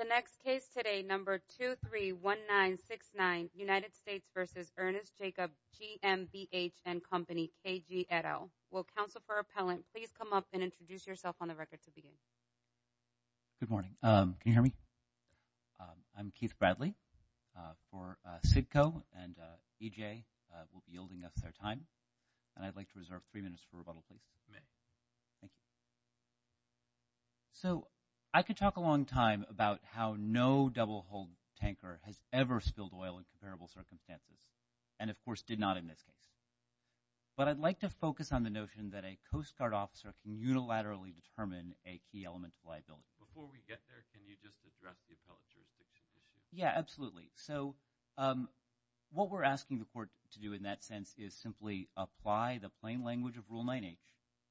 Good morning. Can you hear me? I'm Keith Bradley for CIDCO and EJ will be yielding us their time. And I'd like to reserve three minutes for rebuttal, please. Thank you. So I could talk a long time about how no double-hulled tanker has ever spilled oil in comparable circumstances and, of course, did not in this case. But I'd like to focus on the notion that a Coast Guard officer can unilaterally determine a key element of liability. Before we get there, can you just address the appellate jurisdiction issue? Yeah, absolutely. So what we're asking the court to do in that sense is simply apply the plain language of Rule 9H,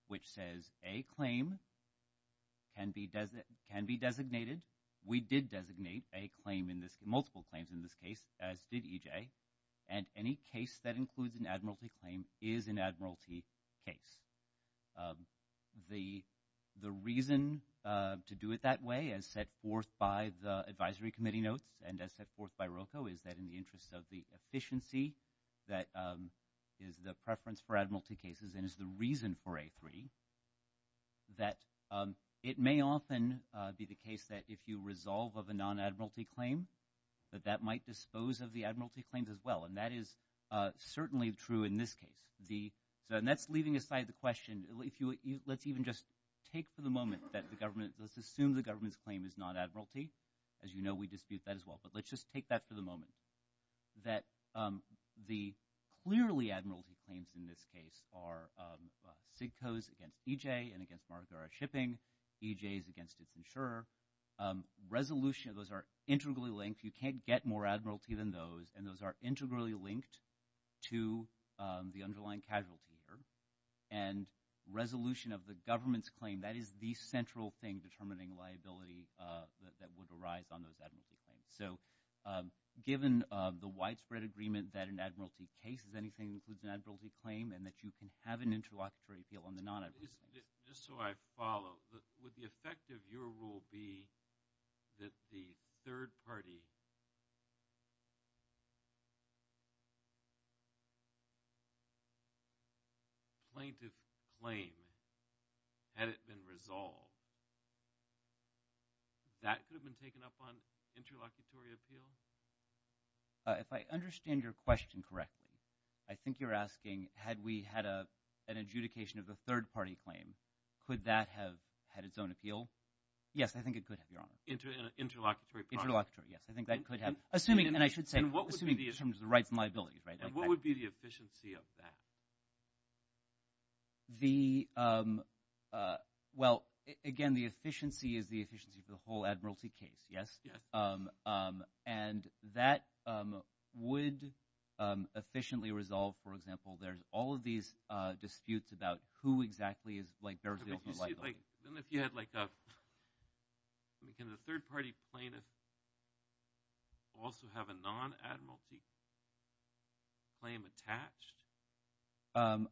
which says a claim can be designated. We did designate a claim in this – multiple claims in this case, as did EJ, and any case that includes an admiralty claim is an admiralty case. The reason to do it that way, as set forth by the advisory committee notes and as set forth by ROCO, is that in the interest of the efficiency that is the preference for admiralty cases and is the reason for A3, that it may often be the case that if you resolve of a non-admiralty claim, that that might dispose of the admiralty claims as well. And that is certainly true in this case. And that's leaving aside the question. Let's even just take for the moment that the government – let's assume the government's claim is non-admiralty. As you know, we dispute that as well. But let's just take that for the moment, that the clearly admiralty claims in this case are SIGCO's against EJ and against Margaret R. Shipping, EJ's against its insurer. Resolution – those are integrally linked. You can't get more admiralty than those. And those are integrally linked to the underlying casualty here. And resolution of the government's claim, that is the central thing determining liability that would arise on those admiralty claims. So given the widespread agreement that an admiralty case is anything that includes an admiralty claim and that you can have an interlocutory appeal on the non-admiralty case. Just so I follow, would the effect of your rule be that the third-party plaintiff claim, had it been resolved, that could have been taken up on interlocutory appeal? If I understand your question correctly, I think you're asking had we had an adjudication of a third-party claim, could that have had its own appeal? Yes, I think it could have, Your Honor. Interlocutory. Interlocutory, yes. I think that could have. Assuming – and I should say – assuming in terms of the rights and liabilities, right? And what would be the efficiency of that? The – well, again, the efficiency is the efficiency for the whole admiralty case, yes? Yes. And that would efficiently resolve, for example, there's all of these disputes about who exactly is – like, bears the ultimate liability. Then if you had like a – can the third-party plaintiff also have a non-admiralty claim attached?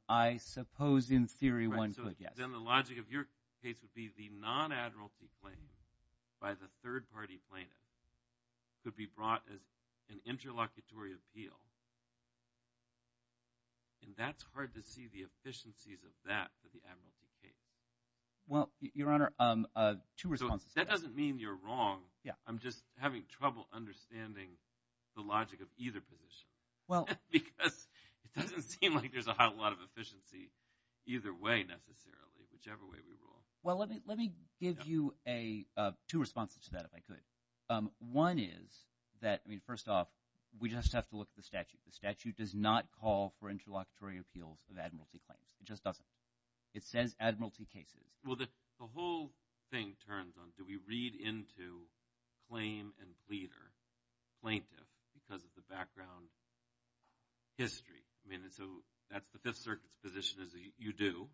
I suppose in theory one could, yes. But then the logic of your case would be the non-admiralty claim by the third-party plaintiff could be brought as an interlocutory appeal, and that's hard to see the efficiencies of that for the admiralty case. Well, Your Honor, two responses. So that doesn't mean you're wrong. Yeah. I'm just having trouble understanding the logic of either position because it doesn't seem like there's a whole lot of efficiency either way necessarily, whichever way we rule. Well, let me give you two responses to that if I could. One is that – I mean first off, we just have to look at the statute. The statute does not call for interlocutory appeals of admiralty claims. It just doesn't. It says admiralty cases. Well, the whole thing turns on do we read into claim and pleader plaintiff because of the background history. I mean so that's the Fifth Circuit's position is that you do,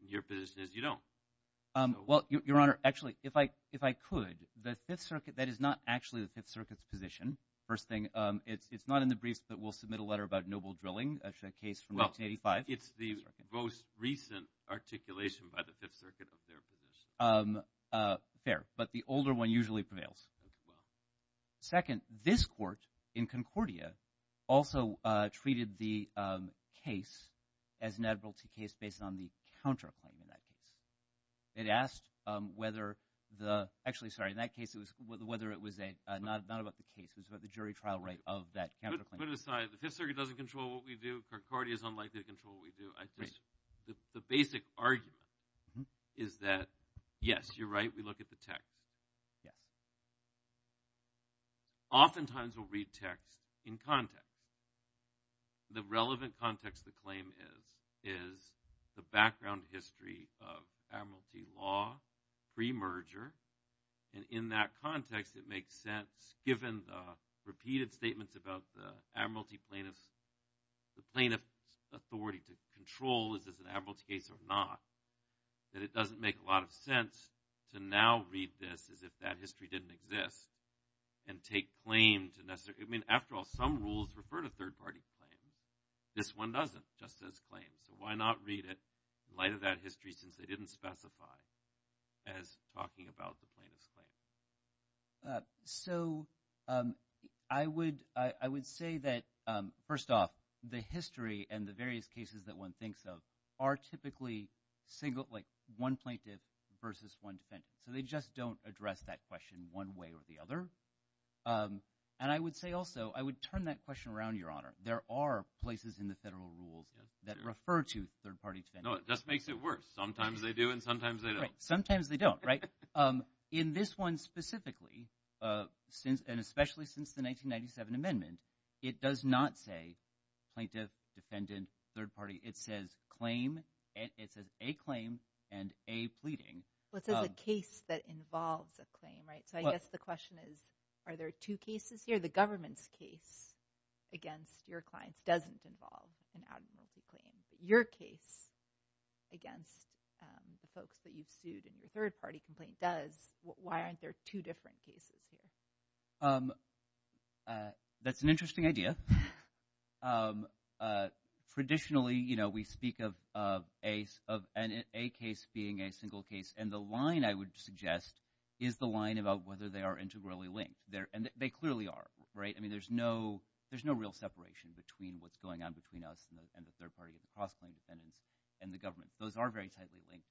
and your position is you don't. Well, Your Honor, actually, if I could, the Fifth Circuit – that is not actually the Fifth Circuit's position, first thing. It's not in the briefs, but we'll submit a letter about noble drilling, a case from 1985. It's the most recent articulation by the Fifth Circuit of their position. Fair, but the older one usually prevails. Second, this court in Concordia also treated the case as an admiralty case based on the counterclaim in that case. It asked whether the – actually, sorry. In that case, it was whether it was a – not about the case. It was about the jury trial rate of that counterclaim. Put it aside. The Fifth Circuit doesn't control what we do. Concordia is unlikely to control what we do. I just – the basic argument is that, yes, you're right. We look at the text. Oftentimes, we'll read text in context. The relevant context of the claim is the background history of admiralty law premerger, and in that context, it makes sense, given the repeated statements about the admiralty plaintiff's – the plaintiff's authority to control is this an admiralty case or not, that it doesn't make a lot of sense to now read this as if that history didn't exist and take claim to – I mean, after all, some rules refer to third-party claims. This one doesn't. It just says claims. So why not read it in light of that history since they didn't specify as talking about the plaintiff's claim? So I would say that, first off, the history and the various cases that one thinks of are typically single – like one plaintiff versus one defendant. So they just don't address that question one way or the other. And I would say also I would turn that question around, Your Honor. There are places in the federal rules that refer to third-party defendants. No, it just makes it worse. Sometimes they do, and sometimes they don't. Sometimes they don't, right? In this one specifically, and especially since the 1997 amendment, it does not say plaintiff, defendant, third party. It says claim. It says a claim and a pleading. Well, it says a case that involves a claim, right? So I guess the question is are there two cases here? The government's case against your clients doesn't involve an admiralty claim. Your case against the folks that you've sued in your third-party complaint does. Why aren't there two different cases here? That's an interesting idea. Traditionally, we speak of a case being a single case. And the line I would suggest is the line about whether they are integrally linked. And they clearly are, right? I mean there's no real separation between what's going on between us and the third party and the cross-claim defendants and the government. Those are very tightly linked.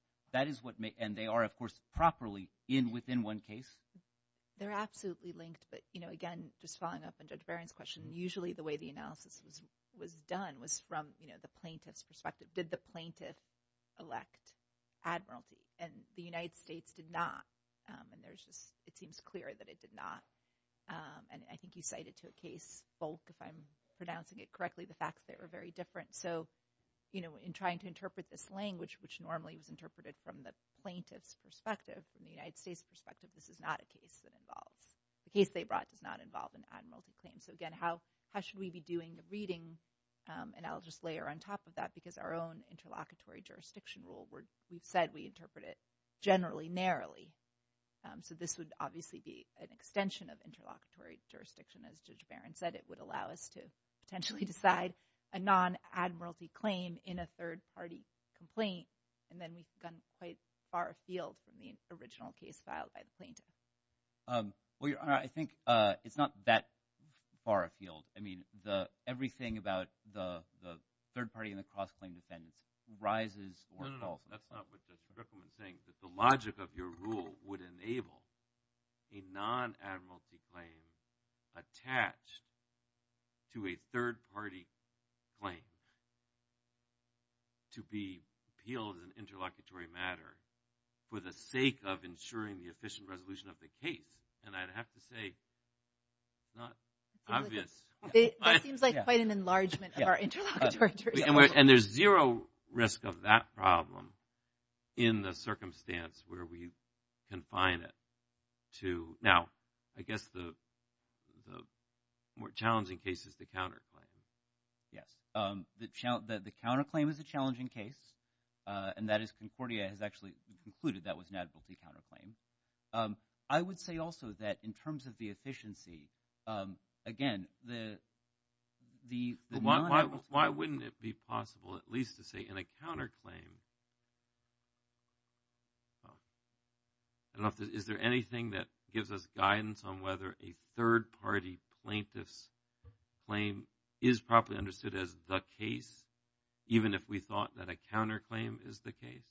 And they are, of course, properly in within one case. They're absolutely linked, but, you know, again, just following up on Judge Barron's question, usually the way the analysis was done was from the plaintiff's perspective. Did the plaintiff elect admiralty? And the United States did not. And it seems clear that it did not. And I think you cited to a case bulk, if I'm pronouncing it correctly, the fact that they were very different. So, you know, in trying to interpret this language, which normally was interpreted from the plaintiff's perspective, from the United States' perspective, this is not a case that involves – the case they brought does not involve an admiralty claim. So, again, how should we be doing the reading? And I'll just layer on top of that because our own interlocutory jurisdiction rule, we've said we interpret it generally, narrowly. So this would obviously be an extension of interlocutory jurisdiction, as Judge Barron said. It would allow us to potentially decide a non-admiralty claim in a third-party complaint. And then we've gone quite far afield from the original case filed by the plaintiff. Well, Your Honor, I think it's not that far afield. I mean everything about the third-party and the cross-claim defendants rises or falls. No, no, no. That's not what Judge Rickleman is saying. The logic of your rule would enable a non-admiralty claim attached to a third-party claim to be appealed as an interlocutory matter for the sake of ensuring the efficient resolution of the case. And I'd have to say it's not obvious. That seems like quite an enlargement of our interlocutory jurisdiction. And there's zero risk of that problem in the circumstance where we confine it to – now, I guess the more challenging case is the counterclaim. Yes. The counterclaim is a challenging case. And that is Concordia has actually concluded that was an admiralty counterclaim. I would say also that in terms of the efficiency, again, the non-admiralty – Why wouldn't it be possible at least to say in a counterclaim – I don't know if there's – is there anything that gives us guidance on whether a third-party plaintiff's claim is properly understood as the case, even if we thought that a counterclaim is the case?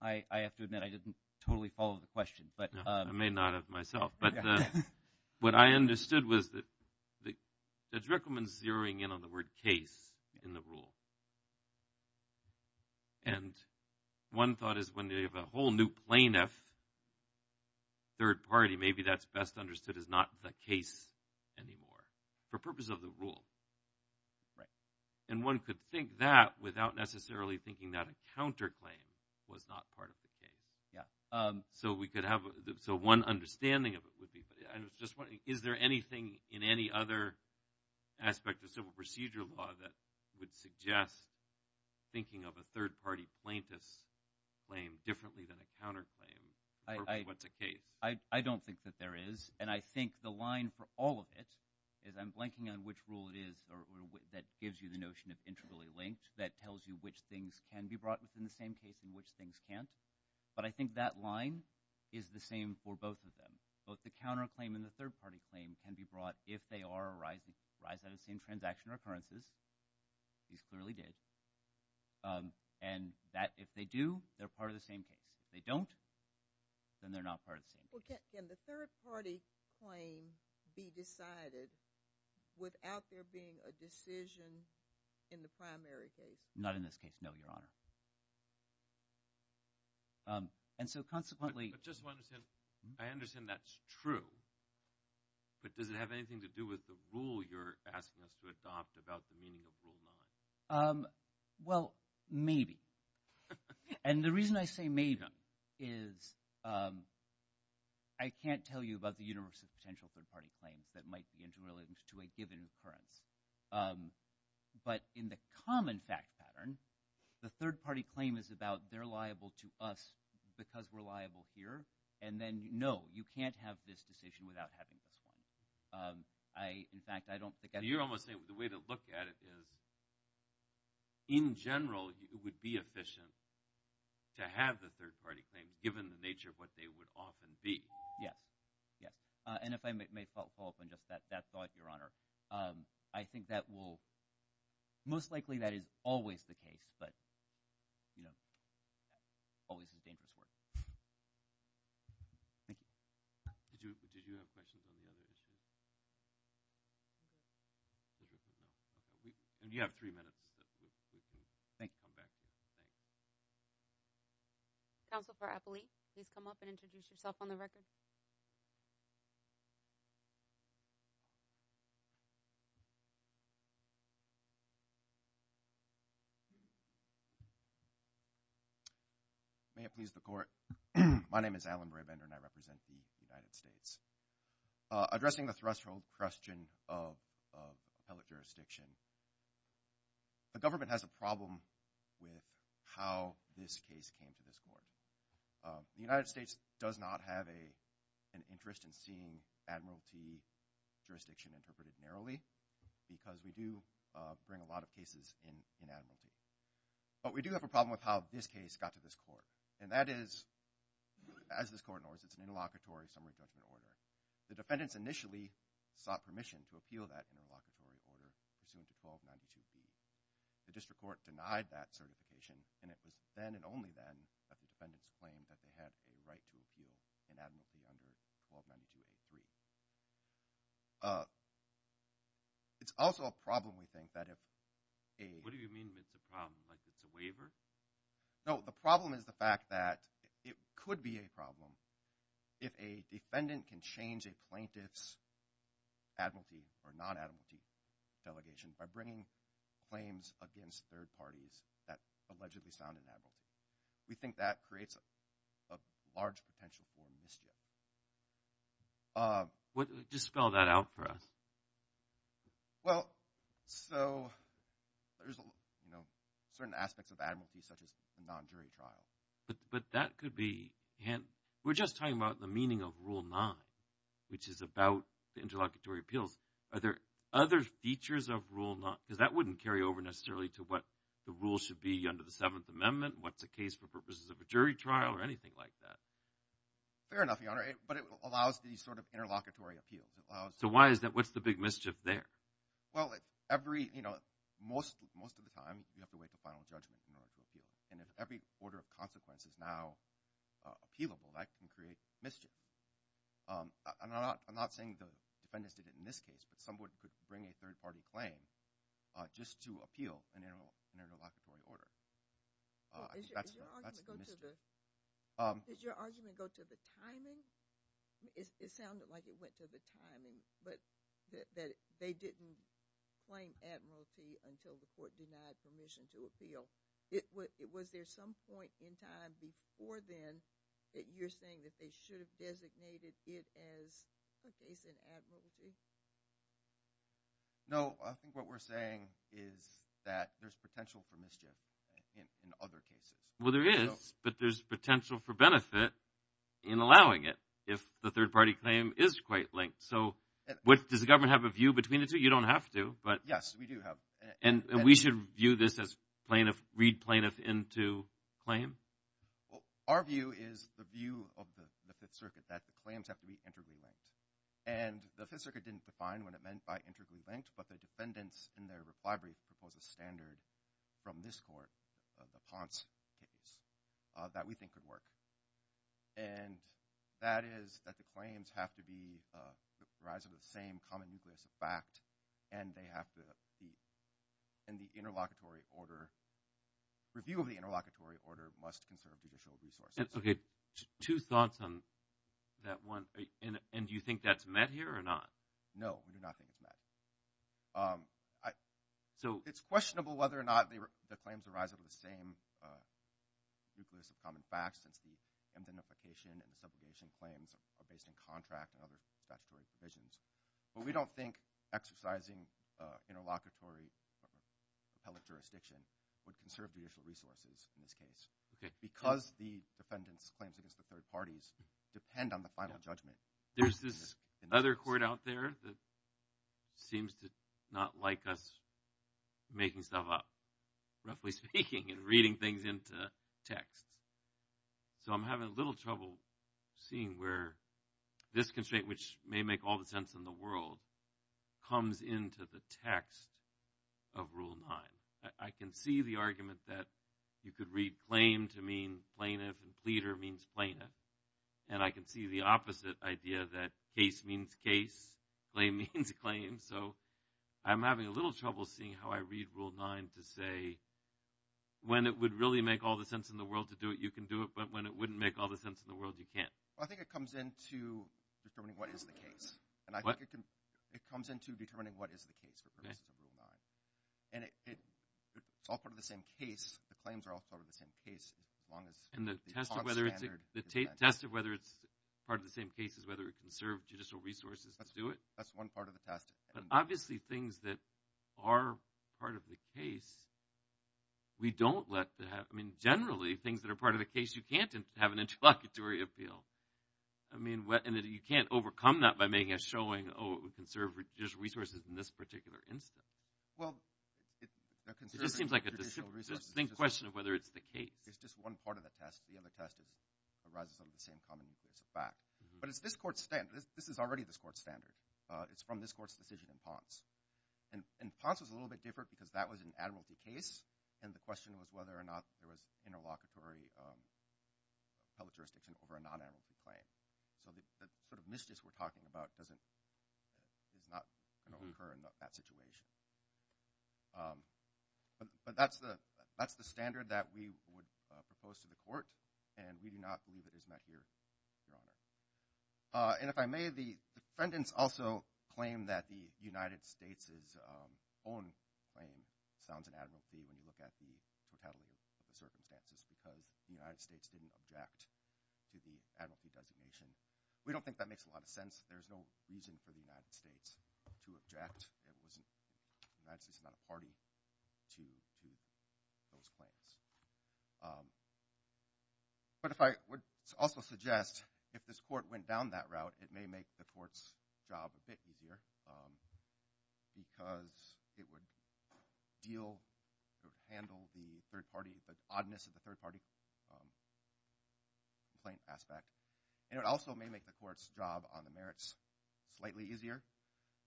I have to admit I didn't totally follow the question. I may not have myself. But what I understood was that Drickelman's zeroing in on the word case in the rule. And one thought is when you have a whole new plaintiff, third-party, maybe that's best understood as not the case anymore for purpose of the rule. Right. And one could think that without necessarily thinking that a counterclaim was not part of the case. Yeah. So we could have – so one understanding of it would be – I was just wondering, is there anything in any other aspect of civil procedure law that would suggest thinking of a third-party plaintiff's claim differently than a counterclaim for purpose of what's a case? I don't think that there is. And I think the line for all of it is I'm blanking on which rule it is that gives you the notion of integrally linked, that tells you which things can be brought within the same case and which things can't. But I think that line is the same for both of them. Both the counterclaim and the third-party claim can be brought if they arise out of the same transaction or occurrences. These clearly did. And if they do, they're part of the same case. If they don't, then they're not part of the same case. Well, can the third-party claim be decided without there being a decision in the primary case? Not in this case, no, Your Honor. And so consequently – But just to understand, I understand that's true, but does it have anything to do with the rule you're asking us to adopt about the meaning of Rule 9? Well, maybe. And the reason I say maybe is I can't tell you about the universe of potential third-party claims that might be interrelated to a given occurrence. But in the common fact pattern, the third-party claim is about they're liable to us because we're liable here. And then, no, you can't have this decision without having this one. In fact, I don't think I – So you're almost saying the way to look at it is in general, it would be efficient to have the third-party claims given the nature of what they would often be. Yes, yes. And if I may follow up on just that thought, Your Honor, I think that will – most likely that is always the case, but always is dangerous work. Thank you. Did you have questions on the other issues? And you have three minutes. Thank you. Counsel for Appolite, please come up and introduce yourself on the record. May it please the Court. My name is Alan Brabender, and I represent the United States. Addressing the threshold question of appellate jurisdiction, the government has a problem with how this case came to this Court. The United States does not have an interest in seeing admiralty jurisdiction interpreted narrowly because we do bring a lot of cases in admiralty. But we do have a problem with how this case got to this Court, and that is, as this Court knows, it's an interlocutory summary judgment order. The defendants initially sought permission to appeal that interlocutory order pursuant to 1292A3. The district court denied that certification, and it was then and only then that the defendants claimed that they had a right to appeal in admiralty under 1292A3. It's also a problem, we think, that if a – Like it's a waiver? No, the problem is the fact that it could be a problem if a defendant can change a plaintiff's admiralty or non-admiralty delegation by bringing claims against third parties that allegedly sound in admiralty. We think that creates a large potential for mischief. Just spell that out for us. Well, so there's certain aspects of admiralty such as a non-jury trial. But that could be – we're just talking about the meaning of Rule 9, which is about the interlocutory appeals. Are there other features of Rule 9? Because that wouldn't carry over necessarily to what the rules should be under the Seventh Amendment, what's a case for purposes of a jury trial or anything like that. Fair enough, Your Honor, but it allows these sort of interlocutory appeals. So why is that? What's the big mischief there? Well, every – most of the time you have to wait until final judgment in order to appeal. And if every order of consequence is now appealable, that can create mischief. I'm not saying the defendants did it in this case, but someone could bring a third-party claim just to appeal an interlocutory order. I think that's the mischief. Did your argument go to the timing? It sounded like it went to the timing, but that they didn't claim admiralty until the court denied permission to appeal. Was there some point in time before then that you're saying that they should have designated it as a case in admiralty? No, I think what we're saying is that there's potential for mischief in other cases. Well, there is, but there's potential for benefit in allowing it if the third-party claim is quite linked. So does the government have a view between the two? You don't have to, but – Yes, we do have. And we should view this as read plaintiff into claim? Well, our view is the view of the Fifth Circuit that the claims have to be integrally linked. And the Fifth Circuit didn't define what it meant by integrally linked, but the defendants in their reply brief proposed a standard from this court, the Ponce case, that we think could work. And that is that the claims have to be the rise of the same common nucleus of fact, and they have to be – and the interlocutory order – review of the interlocutory order must conserve judicial resources. Okay, two thoughts on that one. And do you think that's met here or not? No, we do not think it's met. It's questionable whether or not the claims arise out of the same nucleus of common facts, since the indemnification and the subrogation claims are based in contract and other statutory provisions. But we don't think exercising interlocutory appellate jurisdiction would conserve judicial resources in this case. Because the defendants' claims against the third parties depend on the final judgment. There's this other court out there that seems to not like us making stuff up, roughly speaking, and reading things into text. So I'm having a little trouble seeing where this constraint, which may make all the sense in the world, comes into the text of Rule 9. I can see the argument that you could read claim to mean plaintiff and pleader means plaintiff. And I can see the opposite idea that case means case, claim means claim. So I'm having a little trouble seeing how I read Rule 9 to say when it would really make all the sense in the world to do it, you can do it. But when it wouldn't make all the sense in the world, you can't. I think it comes into determining what is the case. And I think it comes into determining what is the case for purposes of Rule 9. And it's all part of the same case. The claims are all part of the same case, as long as – And the test of whether it's part of the same case is whether it can serve judicial resources to do it. That's one part of the test. But obviously, things that are part of the case, we don't let – I mean, generally, things that are part of the case, you can't have an interlocutory appeal. I mean, you can't overcome that by making a showing, oh, it can serve judicial resources in this particular instance. Well, the concern – It just seems like a distinct question of whether it's the case. It's just one part of the test. The other test arises out of the same common case of fact. But it's this court's standard. This is already this court's standard. It's from this court's decision in Ponce. And Ponce was a little bit different because that was an admiralty case, and the question was whether or not there was interlocutory public jurisdiction over a non-admiralty claim. So the sort of misgist we're talking about doesn't – does not occur in that situation. But that's the standard that we would propose to the court, and we do not believe it is met here, Your Honor. And if I may, the defendants also claim that the United States' own claim sounds an admiralty when you look at the totality of the circumstances because the United States didn't object to the admiralty designation. We don't think that makes a lot of sense. There's no reason for the United States to object. The United States is not a party to those claims. But if I would also suggest if this court went down that route, it may make the court's job a bit easier because it would deal – it would handle the third party – the oddness of the third party complaint aspect. And it also may make the court's job on the merits slightly easier,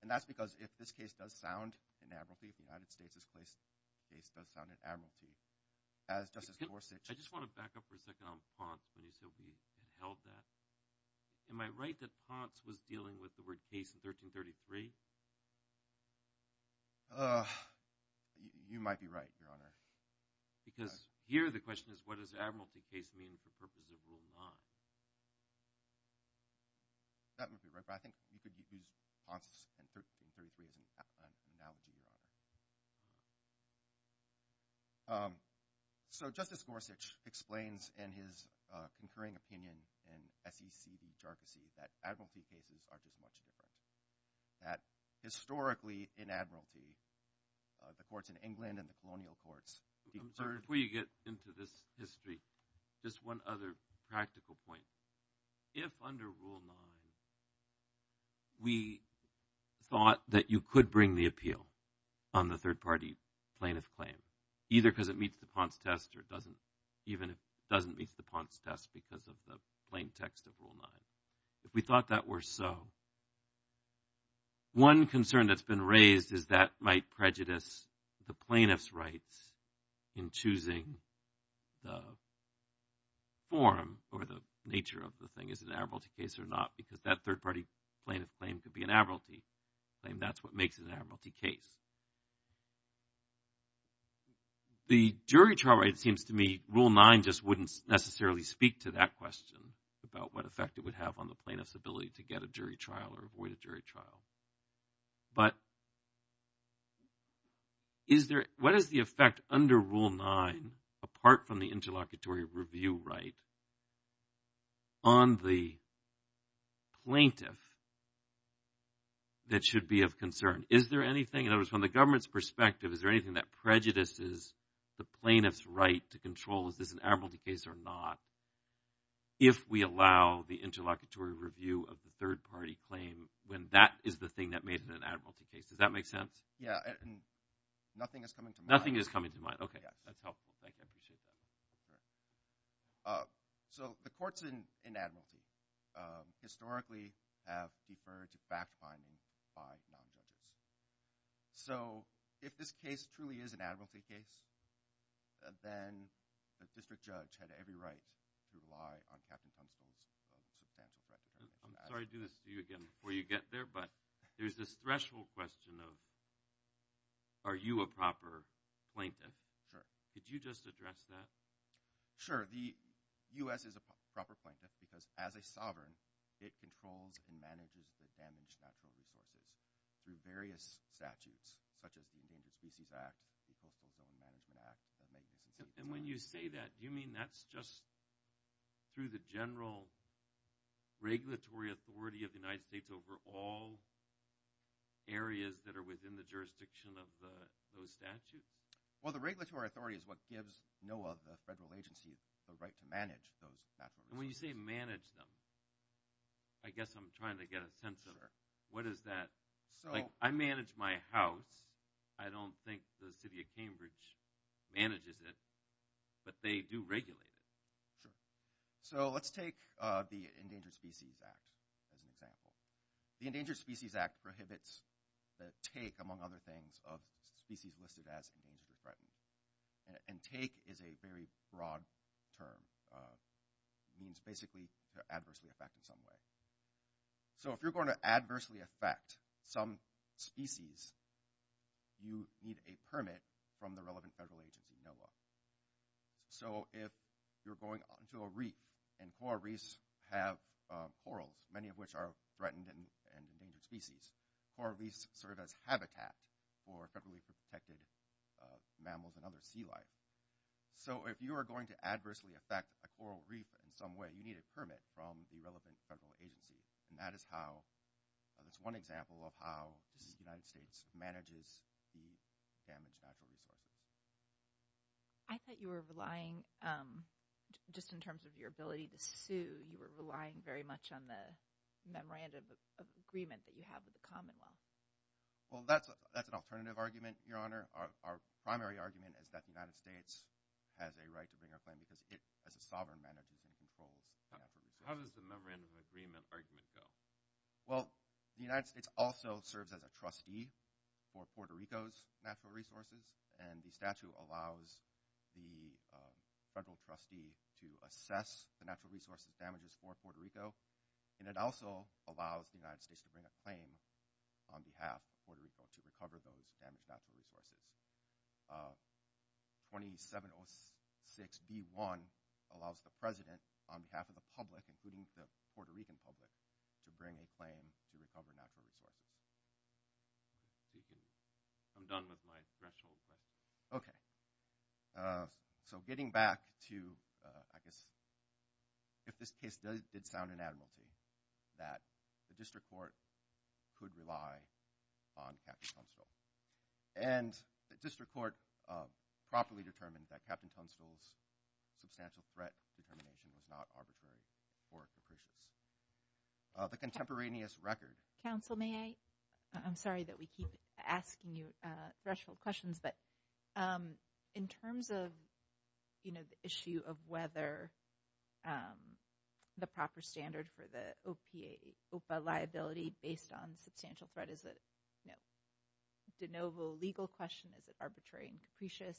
and that's because if this case does sound an admiralty, if the United States' case does sound an admiralty, as Justice Gorsuch – I just want to back up for a second on Ponce when you said we held that. Am I right that Ponce was dealing with the word case in 1333? You might be right, Your Honor. Because here the question is, what does admiralty case mean for purposes of Rule 9? That would be right, but I think you could use Ponce in 1333 as an analogy, Your Honor. So Justice Gorsuch explains in his concurring opinion in SEC v. Jarkissi that admiralty cases are just much different, that historically in admiralty, the courts in England and the colonial courts – Before you get into this history, just one other practical point. If under Rule 9 we thought that you could bring the appeal on the third party plaintiff claim, either because it meets the Ponce test or it doesn't, even if it doesn't meet the Ponce test because of the plain text of Rule 9, if we thought that were so, one concern that's been raised is that might prejudice the plaintiff's rights in choosing the form or the nature of the thing, is it an admiralty case or not, because that third party plaintiff claim could be an admiralty claim. That's what makes it an admiralty case. The jury trial right seems to me Rule 9 just wouldn't necessarily speak to that question about what effect it would have on the plaintiff's ability to get a jury trial or avoid a jury trial. But what is the effect under Rule 9 apart from the interlocutory review right on the plaintiff that should be of concern? Is there anything – in other words, from the government's perspective, is there anything that prejudices the plaintiff's right to control is this an admiralty case or not, if we allow the interlocutory review of the third party claim when that is the thing that made it an admiralty case? Does that make sense? Yeah, and nothing is coming to mind. Nothing is coming to mind, okay. Yes. That's helpful. Thank you. I appreciate that. So the courts in admiralty historically have deferred to fact-finding by non-judges. So if this case truly is an admiralty case, then the district judge had every right to rely on Captain Tunstall's substantial credit. I'm sorry to do this to you again before you get there, but there's this threshold question of are you a proper plaintiff? Sure. Could you just address that? Sure. The U.S. is a proper plaintiff because as a sovereign, it controls and manages the damaged natural resources through various statutes, such as the Endangered Species Act, the Coastal Zone Management Act. And when you say that, do you mean that's just through the general regulatory authority of the United States over all areas that are within the jurisdiction of those statutes? Well, the regulatory authority is what gives NOAA, the federal agency, the right to manage those natural resources. And when you say manage them, I guess I'm trying to get a sense of what is that. I manage my house. I don't think the city of Cambridge manages it, but they do regulate it. Sure. So let's take the Endangered Species Act as an example. The Endangered Species Act prohibits the take, among other things, of species listed as endangered or threatened. And take is a very broad term. It means basically they're adversely affected in some way. So if you're going to adversely affect some species, you need a permit from the relevant federal agency, NOAA. So if you're going onto a reef and coral reefs have corals, many of which are threatened and endangered species, coral reefs serve as habitat for federally protected mammals and other sea life. So if you are going to adversely affect a coral reef in some way, you need a permit from the relevant federal agency. And that is one example of how the United States manages the damaged natural resources. I thought you were relying, just in terms of your ability to sue, you were relying very much on the memorandum of agreement that you have with the Commonwealth. Well, that's an alternative argument, Your Honor. Our primary argument is that the United States has a right to bring our claim because it, as a sovereign, manages and controls natural resources. How does the memorandum of agreement argument go? Well, the United States also serves as a trustee for Puerto Rico's natural resources, and the statute allows the federal trustee to assess the natural resources damages for Puerto Rico, and it also allows the United States to bring a claim on behalf of Puerto Rico to recover those damaged natural resources. 2706B1 allows the President, on behalf of the public, including the Puerto Rican public, to bring a claim to recover natural resources. I'm done with my threshold, but... So getting back to, I guess, if this case did sound inadmissible, that the district court could rely on Captain Constable. And the district court properly determined that Captain Constable's substantial threat determination was not arbitrary or capricious. The contemporaneous record... Counsel, may I? I'm sorry that we keep asking you threshold questions, but in terms of, you know, the issue of whether the proper standard for the OPA liability based on substantial threat is a de novo legal question, is it arbitrary and capricious?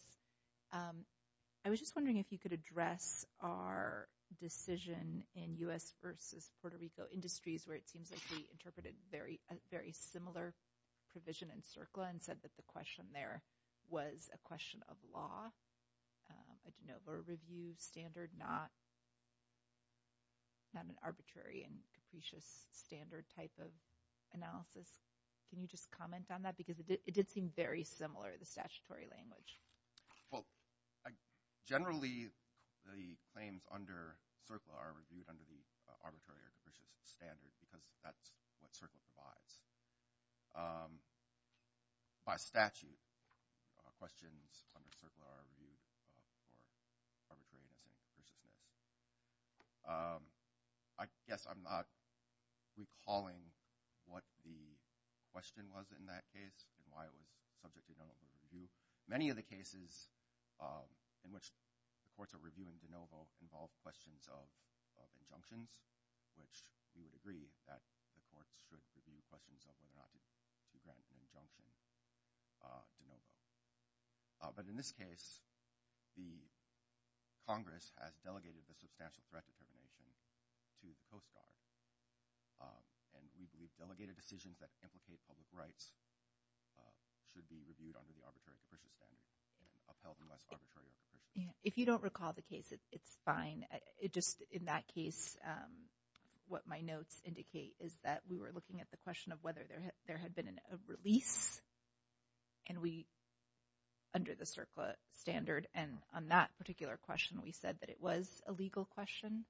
I was just wondering if you could address our decision in U.S. versus Puerto Rico Industries, where it seems like we interpreted a very similar provision in CERCLA and said that the question there was a question of law, a de novo review standard, not an arbitrary and capricious standard type of analysis. Can you just comment on that? Because it did seem very similar, the statutory language. Well, generally, the claims under CERCLA are reviewed under the arbitrary or capricious standard because that's what CERCLA provides. By statute, questions under CERCLA are reviewed for arbitrariness and capriciousness. I guess I'm not recalling what the question was in that case and why it was subject to de novo review. Many of the cases in which the courts are reviewing de novo involve questions of injunctions, which we would agree that the courts should review questions of whether or not to grant an injunction de novo. But in this case, the Congress has delegated the substantial threat determination to the Coast Guard, and we believe delegated decisions that implicate public rights should be reviewed under the arbitrary and capricious standard and upheld unless arbitrary or capricious. If you don't recall the case, it's fine. Just in that case, what my notes indicate is that we were looking at the question of whether there had been a release, and we, under the CERCLA standard, and on that particular question, we said that it was a legal question,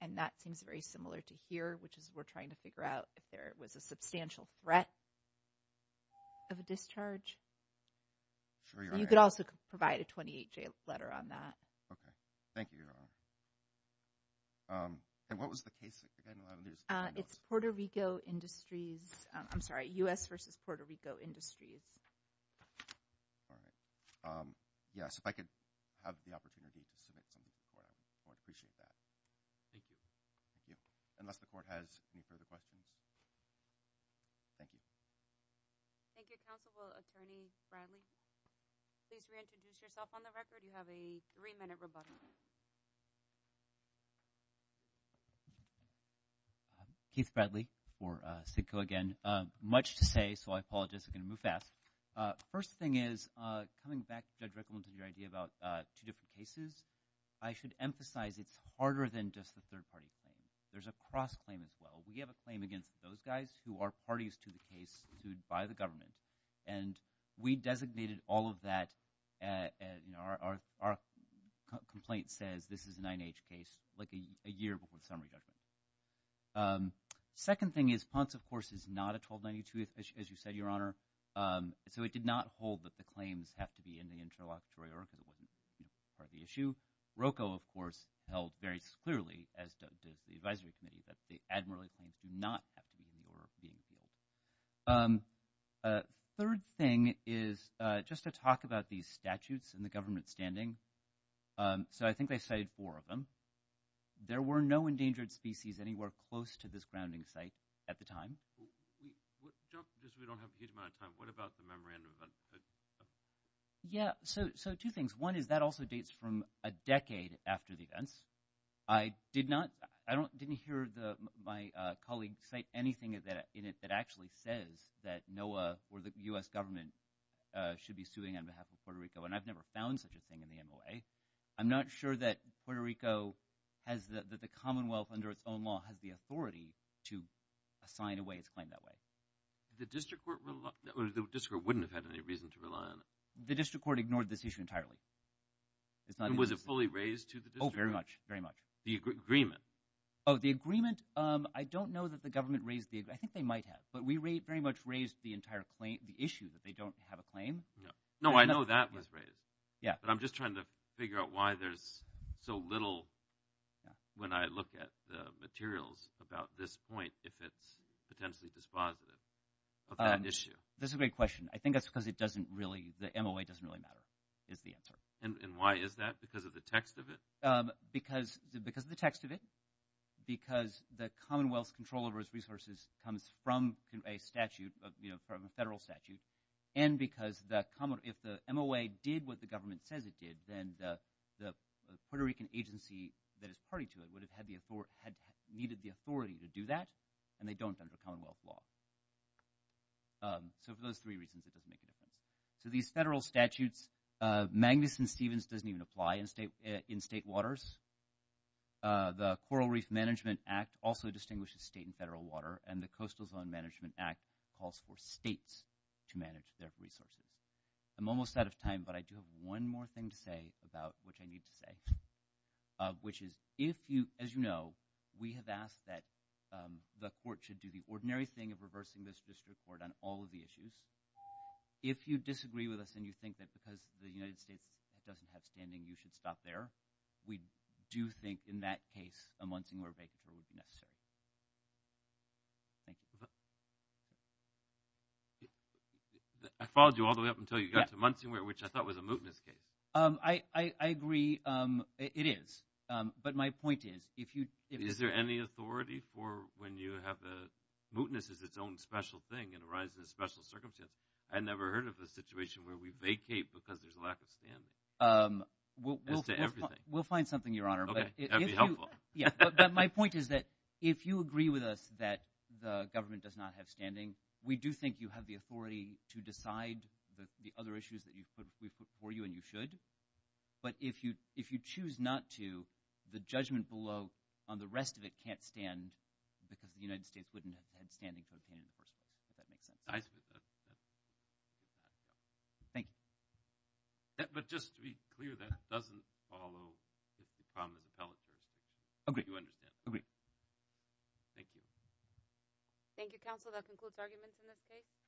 and that seems very similar to here, which is we're trying to figure out if there was a substantial threat of a discharge. So you could also provide a 28-J letter on that. Okay. Thank you, Your Honor. And what was the case? It's Puerto Rico Industries. I'm sorry, U.S. versus Puerto Rico Industries. All right. Yes, if I could have the opportunity to submit something to the court, I would appreciate that. Thank you. Thank you. Unless the court has any further questions. Thank you. Thank you, Counsel. Will Attorney Bradley please reintroduce yourself on the record? You have a three-minute rebuttal. Keith Bradley for CIDCO again. Much to say, so I apologize. I'm going to move fast. First thing is, coming back, Judge Rickleton, to your idea about two different cases, I should emphasize it's harder than just the third-party claim. There's a cross-claim as well. We have a claim against those guys who are parties to the case sued by the government, and we designated all of that. Our complaint says this is a 9-H case, like a year before the summary judgment. Second thing is, Ponce, of course, is not a 1292, as you said, Your Honor, so it did not hold that the claims have to be in the interlocutory order because it wouldn't be part of the issue. Rocco, of course, held very clearly, as does the advisory committee, that the admiralty claims do not have to be in the order of being appealed. Third thing is just to talk about these statutes in the government's standing. So I think they cited four of them. There were no endangered species anywhere close to this grounding site at the time. We don't have a huge amount of time. What about the memorandum? Yeah, so two things. One is that also dates from a decade after the events. I didn't hear my colleague cite anything in it that actually says that NOAA or the U.S. government should be suing on behalf of Puerto Rico, and I've never found such a thing in the MOA. I'm not sure that Puerto Rico, that the Commonwealth under its own law, has the authority to assign away its claim that way. The district court wouldn't have had any reason to rely on it. The district court ignored this issue entirely. Was it fully raised to the district court? Oh, very much, very much. The agreement? Oh, the agreement, I don't know that the government raised the agreement. I think they might have, but we very much raised the issue that they don't have a claim. No, I know that was raised. But I'm just trying to figure out why there's so little when I look at the materials about this point if it's potentially dispositive of that issue. That's a great question. I think that's because it doesn't really, the MOA doesn't really matter is the answer. And why is that, because of the text of it? Because of the text of it, because the Commonwealth's control over its resources comes from a statute, from a federal statute, and because if the MOA did what the government says it did, then the Puerto Rican agency that is party to it would have needed the authority to do that, and they don't under Commonwealth law. So for those three reasons, it doesn't make a difference. So these federal statutes, Magnuson-Stevens doesn't even apply in state waters. The Coral Reef Management Act also distinguishes state and federal water, and the Coastal Zone Management Act calls for states to manage their resources. I'm almost out of time, but I do have one more thing to say about which I need to say, which is if you, as you know, we have asked that the court should do the ordinary thing of reversing this district court on all of the issues. If you disagree with us and you think that because the United States doesn't have standing, you should stop there, we do think in that case a Munsingwear vacant role would be necessary. Thank you. I followed you all the way up until you got to Munsingwear, which I thought was a mootness case. I agree it is, but my point is if you – Is there any authority for when you have a – mootness is its own special thing and arises in special circumstances. I never heard of a situation where we vacate because there's a lack of standing as to everything. We'll find something, Your Honor. Okay, that would be helpful. Yeah, but my point is that if you agree with us that the government does not have standing, we do think you have the authority to decide the other issues that we've put before you and you should. But if you choose not to, the judgment below on the rest of it can't stand because the United States wouldn't have had standing to obtain it in the first place, if that makes sense. I agree with that. Thank you. But just to be clear, that doesn't follow the Commons appellate jurisdiction. Agreed. You understand. Agreed. Thank you. Thank you, counsel. That concludes arguments in this case.